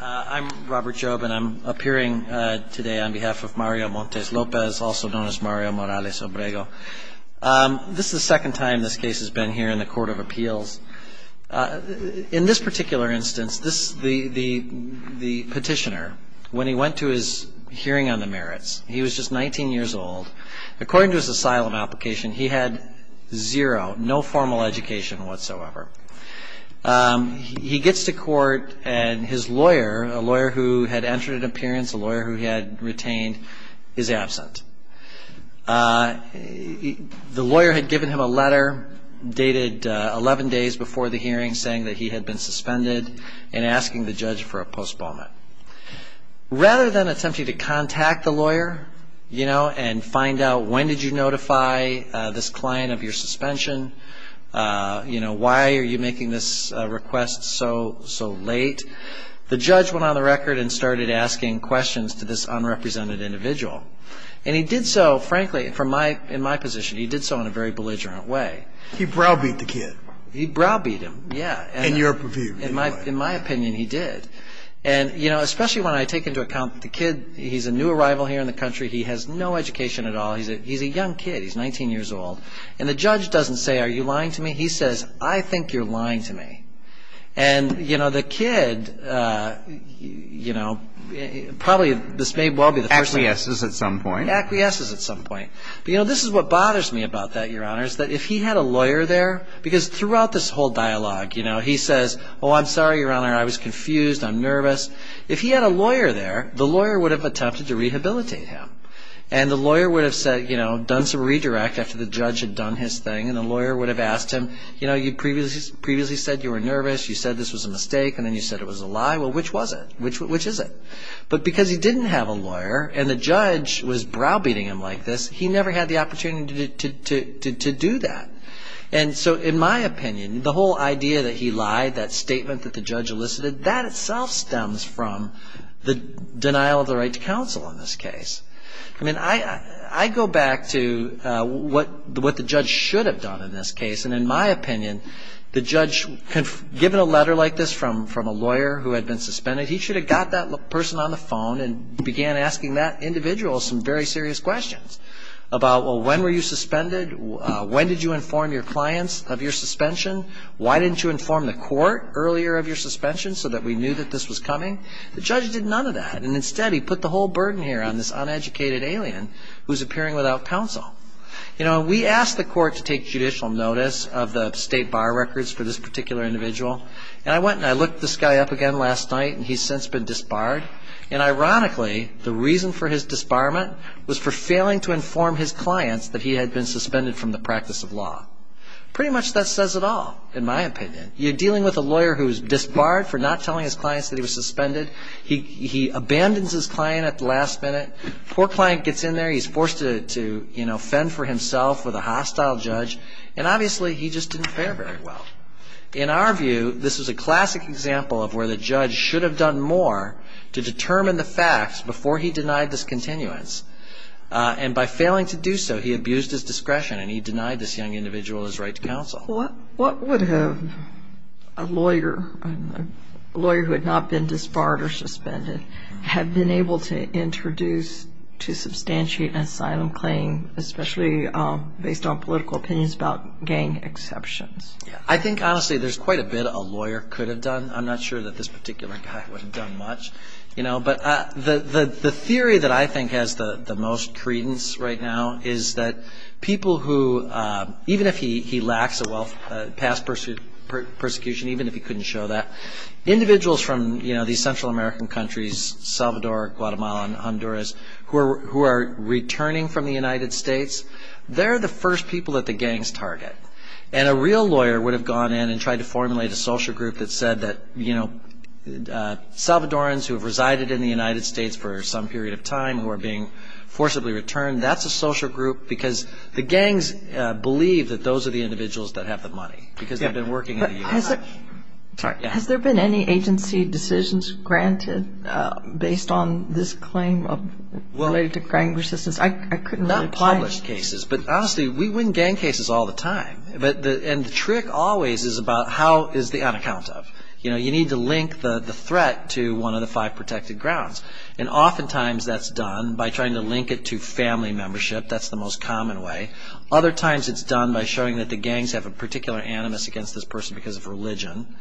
I'm Robert Jobe and I'm appearing today on behalf of Mario Montes-Lopez, also known as Mario Morales-Obrego. This is the second time this case has been here in the Court of Appeals. In this particular instance, the petitioner, when he went to his hearing on the merits, he was just 19 years old. According to his asylum application, he had zero, no formal education whatsoever. He gets to court and his lawyer, a lawyer who had entered an appearance, a lawyer who had retained, is absent. The lawyer had given him a letter dated 11 days before the hearing saying that he had been suspended and asking the judge for a postponement. Rather than attempting to contact the lawyer and find out when did you notify this client of your suspension, why are you making this request so late, the judge went on the record and started asking questions to this unrepresented individual. And he did so, frankly, in my position, he did so in a very belligerent way. He browbeat the kid. He browbeat him, yeah. In your view. In my opinion, he did. Especially when I take into account the kid, he's a new arrival here in the country, he has no education at all, he's a young kid, he's 19 years old. And the judge doesn't say, are you lying to me? He says, I think you're lying to me. And, you know, the kid, you know, probably this may well be the first thing. Acquiesces at some point. Acquiesces at some point. But, you know, this is what bothers me about that, Your Honor, is that if he had a lawyer there, because throughout this whole dialogue, you know, he says, oh, I'm sorry, Your Honor, I was confused, I'm nervous. If he had a lawyer there, the lawyer would have attempted to rehabilitate him. And the lawyer would have said, you know, done some redirect after the judge had done his thing, and the lawyer would have asked him, you know, you previously said you were nervous, you said this was a mistake, and then you said it was a lie. Well, which was it? Which is it? But because he didn't have a lawyer, and the judge was browbeating him like this, he never had the opportunity to do that. And so, in my opinion, the whole idea that he lied, that statement that the judge elicited, that itself stems from the denial of the right to counsel in this case. I mean, I go back to what the judge should have done in this case. And in my opinion, the judge, given a letter like this from a lawyer who had been suspended, he should have got that person on the phone and began asking that individual some very serious questions about, well, when were you suspended, when did you inform your clients of your suspension, why didn't you inform the court earlier of your suspension so that we knew that this was coming? The judge did none of that. And instead, he put the whole burden here on this uneducated alien who's appearing without counsel. You know, we asked the court to take judicial notice of the state bar records for this particular individual. And I went and I looked this guy up again last night, and he's since been disbarred. And ironically, the reason for his disbarment was for failing to inform his clients that he had been suspended from the practice of law. Pretty much that says it all, in my opinion. You're dealing with a lawyer who's disbarred for not telling his clients that he was suspended. He abandons his client at the last minute. Poor client gets in there. He's forced to, you know, fend for himself with a hostile judge. And obviously, he just didn't fare very well. In our view, this was a classic example of where the judge should have done more to determine the facts before he denied this continuance. And by failing to do so, he abused his discretion, and he denied this young individual his right to counsel. What would have a lawyer, a lawyer who had not been disbarred or suspended, have been able to introduce to substantiate an asylum claim, especially based on political opinions about gang exceptions? I think, honestly, there's quite a bit a lawyer could have done. I'm not sure that this particular guy would have done much. But the theory that I think has the most credence right now is that people who, even if he lacks a past persecution, even if he couldn't show that, individuals from these Central American countries, Salvador, Guatemala, Honduras, who are returning from the United States, they're the first people that the gangs target. And a real lawyer would have gone in and tried to formulate a social group that said that, you know, the Salvadorans who have resided in the United States for some period of time, who are being forcibly returned, that's a social group because the gangs believe that those are the individuals that have the money, because they've been working in the U.S. Has there been any agency decisions granted based on this claim related to gang resistance? Not published cases, but, honestly, we win gang cases all the time. And the trick always is about how is the unaccounted of. You know, you need to link the threat to one of the five protected grounds. And oftentimes that's done by trying to link it to family membership. That's the most common way. Other times it's done by showing that the gangs have a particular animus against this person because of religion.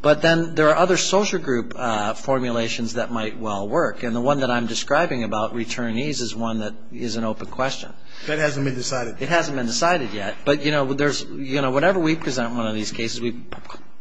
But then there are other social group formulations that might well work. And the one that I'm describing about returnees is one that is an open question. That hasn't been decided? It hasn't been decided yet. But, you know, whenever we present one of these cases, we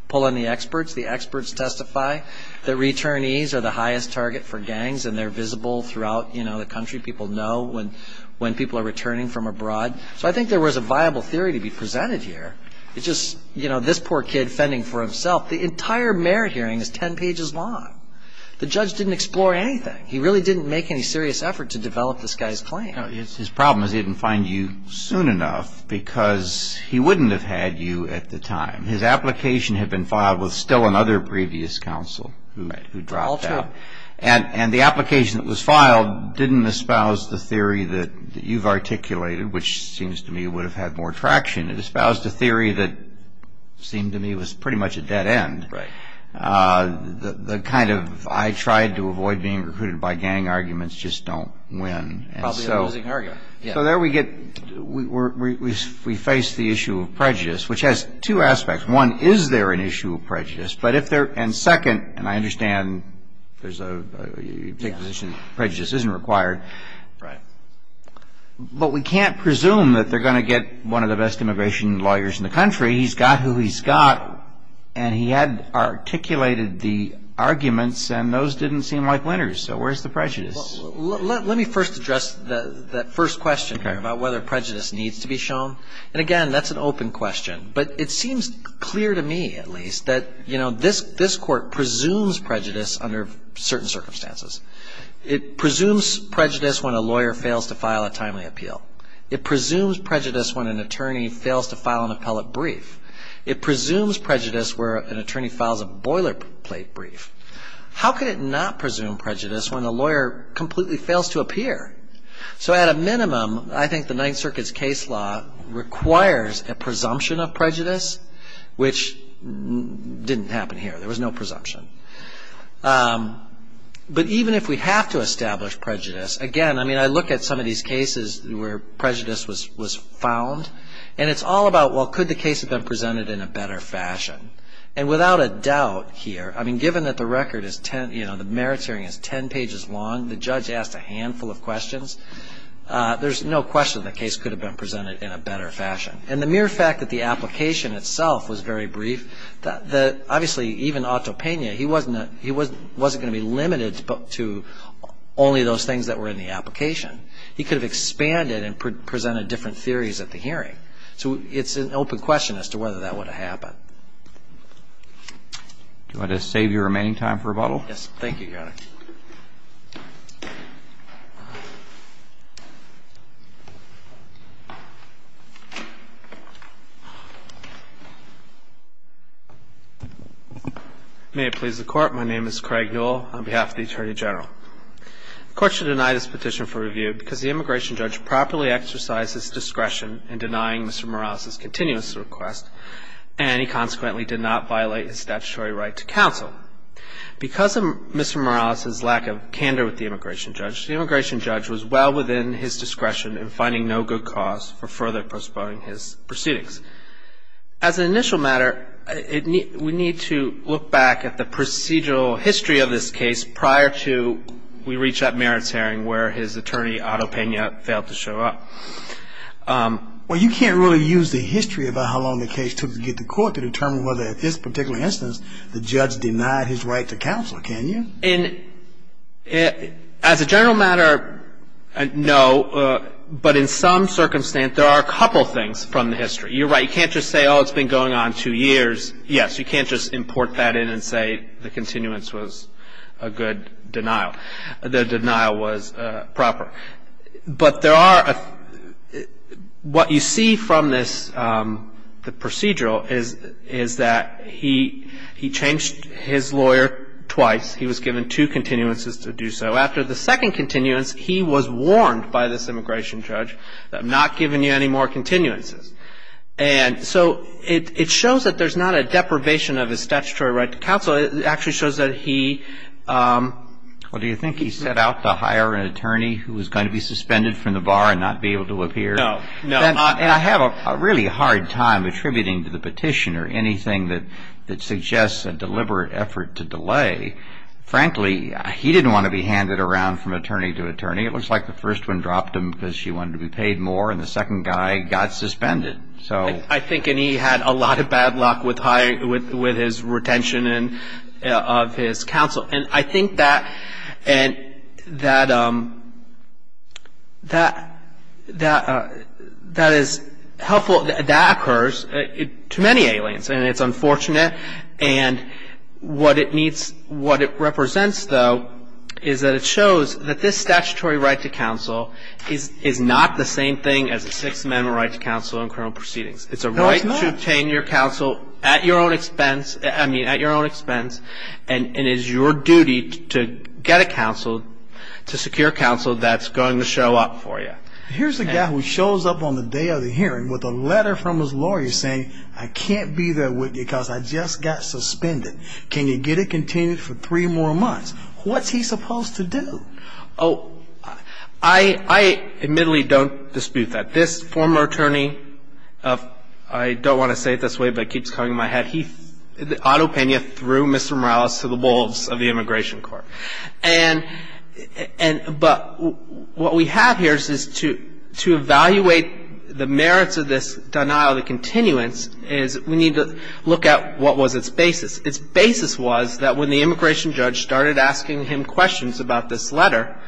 pull in the experts. The experts testify that returnees are the highest target for gangs, and they're visible throughout the country. People know when people are returning from abroad. So I think there was a viable theory to be presented here. It's just, you know, this poor kid fending for himself. The entire mayor hearing is 10 pages long. The judge didn't explore anything. He really didn't make any serious effort to develop this guy's claim. His problem is he didn't find you soon enough because he wouldn't have had you at the time. His application had been filed with still another previous counsel who dropped out. And the application that was filed didn't espouse the theory that you've articulated, which seems to me would have had more traction. It espoused a theory that seemed to me was pretty much a dead end. The kind of I tried to avoid being recruited by gang arguments just don't win. Probably a losing argument. So there we get we face the issue of prejudice, which has two aspects. One, is there an issue of prejudice? And second, and I understand there's a position that prejudice isn't required. Right. But we can't presume that they're going to get one of the best immigration lawyers in the country. He's got who he's got. And he had articulated the arguments, and those didn't seem like winners. So where's the prejudice? Let me first address that first question about whether prejudice needs to be shown. And, again, that's an open question. But it seems clear to me, at least, that this court presumes prejudice under certain circumstances. It presumes prejudice when a lawyer fails to file a timely appeal. It presumes prejudice when an attorney fails to file an appellate brief. It presumes prejudice where an attorney files a boilerplate brief. How could it not presume prejudice when a lawyer completely fails to appear? So at a minimum, I think the Ninth Circuit's case law requires a presumption of prejudice, which didn't happen here. There was no presumption. But even if we have to establish prejudice, again, I mean, I look at some of these cases where prejudice was found. And it's all about, well, could the case have been presented in a better fashion? And without a doubt here, I mean, given that the record is 10, you know, the merits hearing is 10 pages long, the judge asked a handful of questions, there's no question the case could have been presented in a better fashion. And the mere fact that the application itself was very brief, obviously even Otto Pena, he wasn't going to be limited to only those things that were in the application. So it's an open question as to whether that would have happened. Do you want to save your remaining time for rebuttal? Yes, thank you, Your Honor. May it please the Court. My name is Craig Newell on behalf of the Attorney General. The Court should deny this petition for review because the immigration judge properly exercised his discretion in denying Mr. Morales' continuous request, and he consequently did not violate his statutory right to counsel. Because of Mr. Morales' lack of candor with the immigration judge, the immigration judge was well within his discretion in finding no good cause for further postponing his proceedings. As an initial matter, we need to look back at the procedural history of this case prior to we reach that merits hearing where his attorney, Otto Pena, failed to show up. Well, you can't really use the history about how long the case took to get to court to determine whether at this particular instance the judge denied his right to counsel, can you? As a general matter, no. But in some circumstance, there are a couple things from the history. You're right. You can't just say, oh, it's been going on two years. Yes, you can't just import that in and say the continuance was a good denial. The denial was proper. But there are what you see from this procedural is that he changed his lawyer twice. He was given two continuances to do so. After the second continuance, he was warned by this immigration judge, I'm not giving you any more continuances. And so it shows that there's not a deprivation of his statutory right to counsel. It actually shows that he... Well, do you think he set out to hire an attorney who was going to be suspended from the bar and not be able to appear? No, no. And I have a really hard time attributing to the petitioner anything that suggests a deliberate effort to delay. Frankly, he didn't want to be handed around from attorney to attorney. It looks like the first one dropped him because she wanted to be paid more and the second guy got suspended. I think he had a lot of bad luck with his retention of his counsel. And I think that is helpful. That occurs to many aliens and it's unfortunate. And what it represents, though, is that it shows that this statutory right to counsel is not the same thing as a Sixth Amendment right to counsel in criminal proceedings. It's a right to obtain your counsel at your own expense and it is your duty to get a counsel, to secure counsel that's going to show up for you. Here's a guy who shows up on the day of the hearing with a letter from his lawyer saying, I can't be there with you because I just got suspended. Can you get it continued for three more months? What's he supposed to do? I'm not going to get you suspended. It's a right to counsel. Oh, I admittedly don't dispute that. This former attorney of I don't want to say it this way, but it keeps coming to my head. He, Otto Pena, threw Mr. Morales to the wolves of the Immigration Court. And, but what we have here is to evaluate the merits of this denial, the continuance, is we need to look at what was its basis. Its basis was that when the immigration judge started asking him questions about this letter,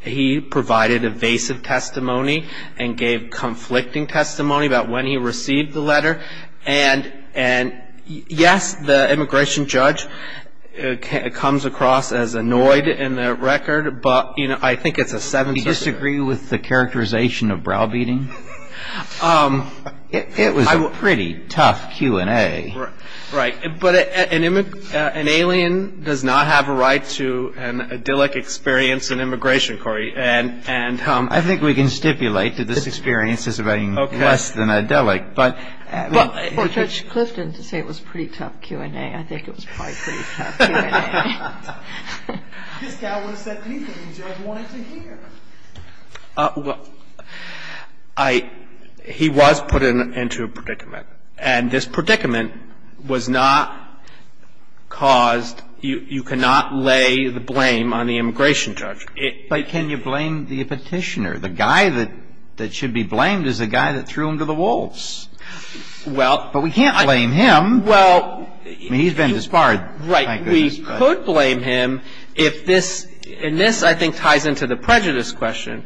he provided evasive testimony and gave conflicting testimony about when he received the letter and yes, the immigration judge comes across as annoyed in the record, but I think it's a seven-seven. Do you disagree with the characterization of browbeating? It was a pretty tough Q&A. Right, but an alien does not have a right to an idyllic experience in immigration, Corey. I think we can stipulate that this experience is less than idyllic. But for Judge Clifton to say it was a pretty tough Q&A, I think it was probably a pretty tough Q&A. This guy would have said anything the judge wanted to hear. Well, I, he was put into a predicament. And this predicament was not caused, you cannot lay the blame on the immigration judge. But can you blame the petitioner? The guy that should be blamed is the guy that threw him to the wolves. But we can't blame him. I mean, he's been disbarred. Right. We could blame him if this, and this I think ties into the prejudice question.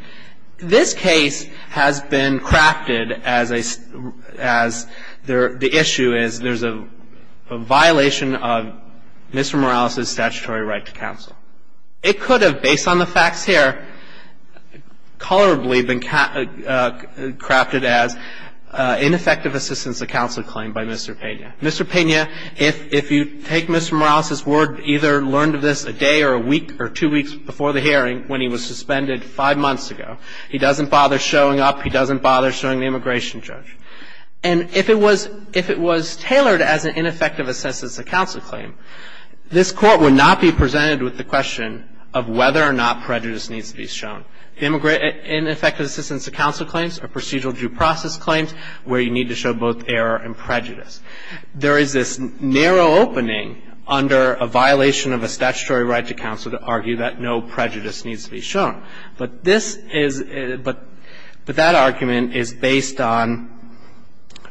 This case has been crafted as the issue is there's a violation of Mr. Morales' statutory right to counsel. It could have, based on the facts here, colorably been crafted as ineffective assistance to counsel claim by Mr. Pena. Mr. Pena, if you take Mr. Morales' word, either learned of this a day or a week or two weeks before the hearing when he was suspended five months ago, he doesn't bother showing up, he doesn't bother showing the immigration judge. And if it was, if it was tailored as an ineffective assistance to counsel claim, this Court would not be presented with the question of whether or not prejudice needs to be shown. Ineffective assistance to counsel claims are procedural due process claims where you need to show both error and prejudice. There is this narrow opening under a violation of a statutory right to counsel to argue that no prejudice needs to be shown. But this is, but that argument is based on,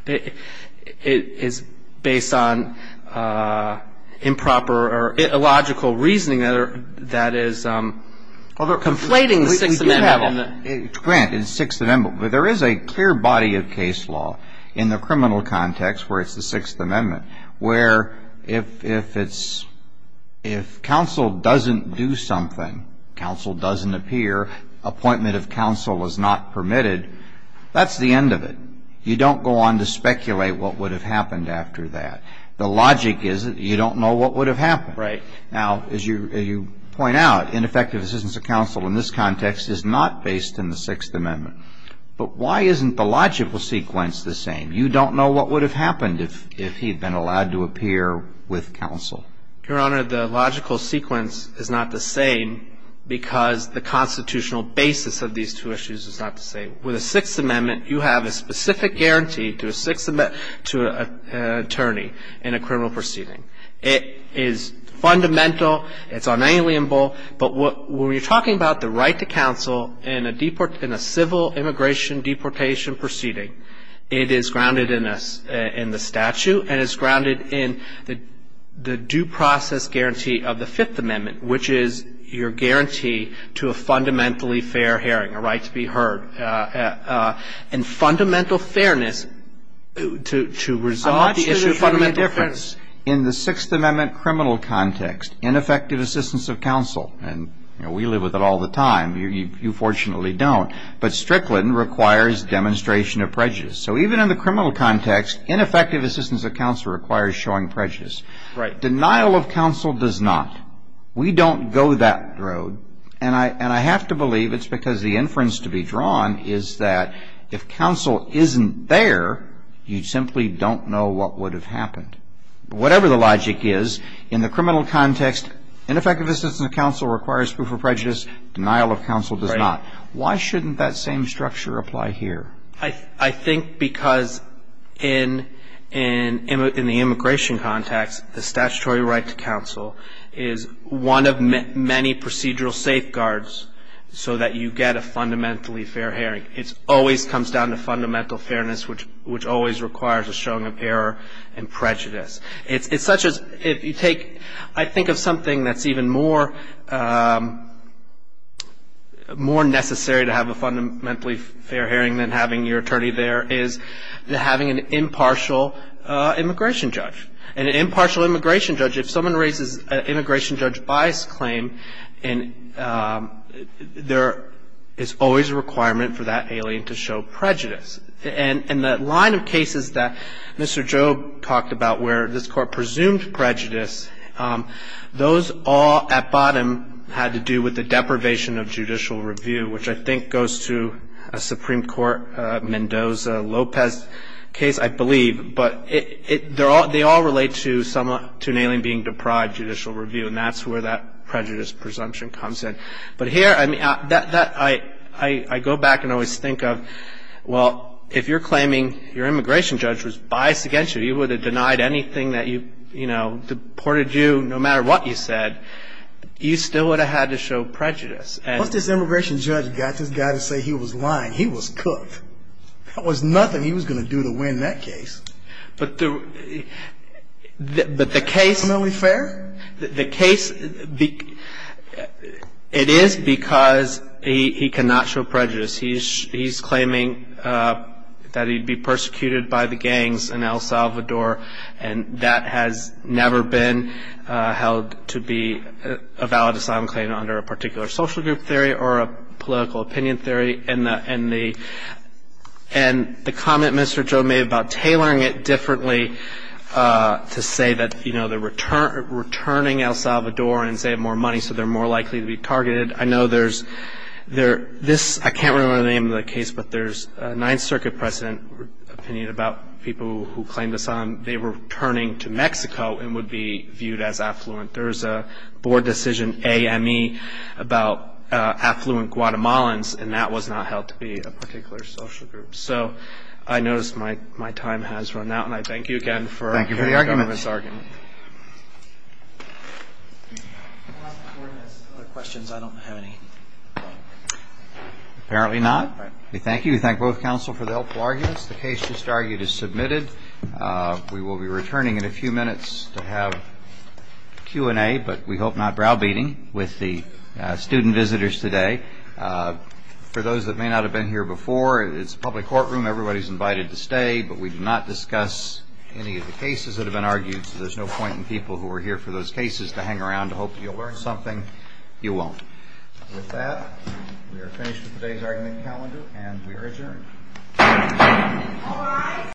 is based on improper or illogical reasoning that is conflating the Sixth Amendment. Alito, we do have a grant in the Sixth Amendment, but there is a clear body of case law in the criminal context where it's the Sixth Amendment where if it's, if counsel doesn't do something, counsel doesn't appear, appointment of counsel is not permitted, that's the end of it. You don't go on to speculate what would have happened after that. The logic is that you don't know what would have happened. Right. Now, as you point out, ineffective assistance to counsel in this context is not based in the Sixth Amendment. But why isn't the logical sequence the same? You don't know what would have happened if he had been allowed to appear with counsel. Your Honor, the logical sequence is not the same because the constitutional basis of these two issues is not the same. With the Sixth Amendment, you have a specific guarantee to a Sixth Amendment, to an attorney in a criminal proceeding. It is fundamental, it's unalienable, but when we're talking about the right to counsel in a civil immigration deportation proceeding, it is grounded in the statute and it's grounded in the due process guarantee of the Fifth Amendment, which is your guarantee to a fundamentally fair hearing, a right to be heard. And fundamental fairness to resolve the issue of fundamental fairness. I'm not sure there would be a difference in the Sixth Amendment criminal context, ineffective assistance of counsel. And, you know, we live with it all the time. You fortunately don't. But Strickland requires demonstration of prejudice. So even in the criminal context, ineffective assistance of counsel requires showing prejudice. Right. Denial of counsel does not. We don't go that road. And I have to believe it's because the inference to be drawn is that if counsel isn't there, you simply don't know what would have happened. Whatever the logic is, in the criminal context, ineffective assistance of counsel requires proof of prejudice, denial of counsel does not. Why shouldn't that same structure apply here? I think because in the immigration context, the statutory right to counsel is one of many procedural safeguards so that you get a fundamentally fair hearing. It always comes down to fundamental fairness, which always requires a showing of error and prejudice. It's such as if you take, I think, of something that's even more necessary to have a fundamentally fair hearing than having your attorney there is having an impartial immigration judge. An impartial immigration judge, if someone raises an immigration judge bias claim, there is always a requirement for that alien to show prejudice. And the line of cases that Mr. Job talked about where this Court presumed prejudice, those all at bottom had to do with the deprivation of judicial review, which I think goes to a Supreme Court Mendoza-Lopez case, I believe. But they all relate to an alien being deprived judicial review, and that's where that prejudice presumption comes in. But here, I go back and always think of, well, if you're claiming your immigration judge was biased against you, he would have denied anything that you, you know, deported you no matter what you said, you still would have had to show prejudice. Once this immigration judge got this guy to say he was lying, he was cooked. There was nothing he was going to do to win that case. But the case- Fundamentally fair? The case, it is because he cannot show prejudice. He's claiming that he'd be persecuted by the gangs in El Salvador, and that has never been held to be a valid asylum claim under a particular social group theory or a political opinion theory. And the comment Mr. Job made about tailoring it differently to say that, you know, they're returning El Salvador and saving more money so they're more likely to be targeted, I know there's this, I can't remember the name of the case, but there's a Ninth Circuit precedent opinion about people who claimed asylum, they were returning to Mexico and would be viewed as affluent. There was a board decision, AME, about affluent Guatemalans, and that was not held to be a particular social group. So I notice my time has run out, and I thank you again for- Thank you for the argument. For the government's argument. If the Board has other questions, I don't have any. Apparently not. We thank you. We thank both counsel for the helpful arguments. The case just argued is submitted. We will be returning in a few minutes to have Q&A, but we hope not browbeating with the student visitors today. For those that may not have been here before, it's a public courtroom. Everybody's invited to stay, but we do not discuss any of the cases that have been argued, so there's no point in people who are here for those cases to hang around to hope you'll learn something. You won't. With that, we are finished with today's argument calendar, and we are adjourned.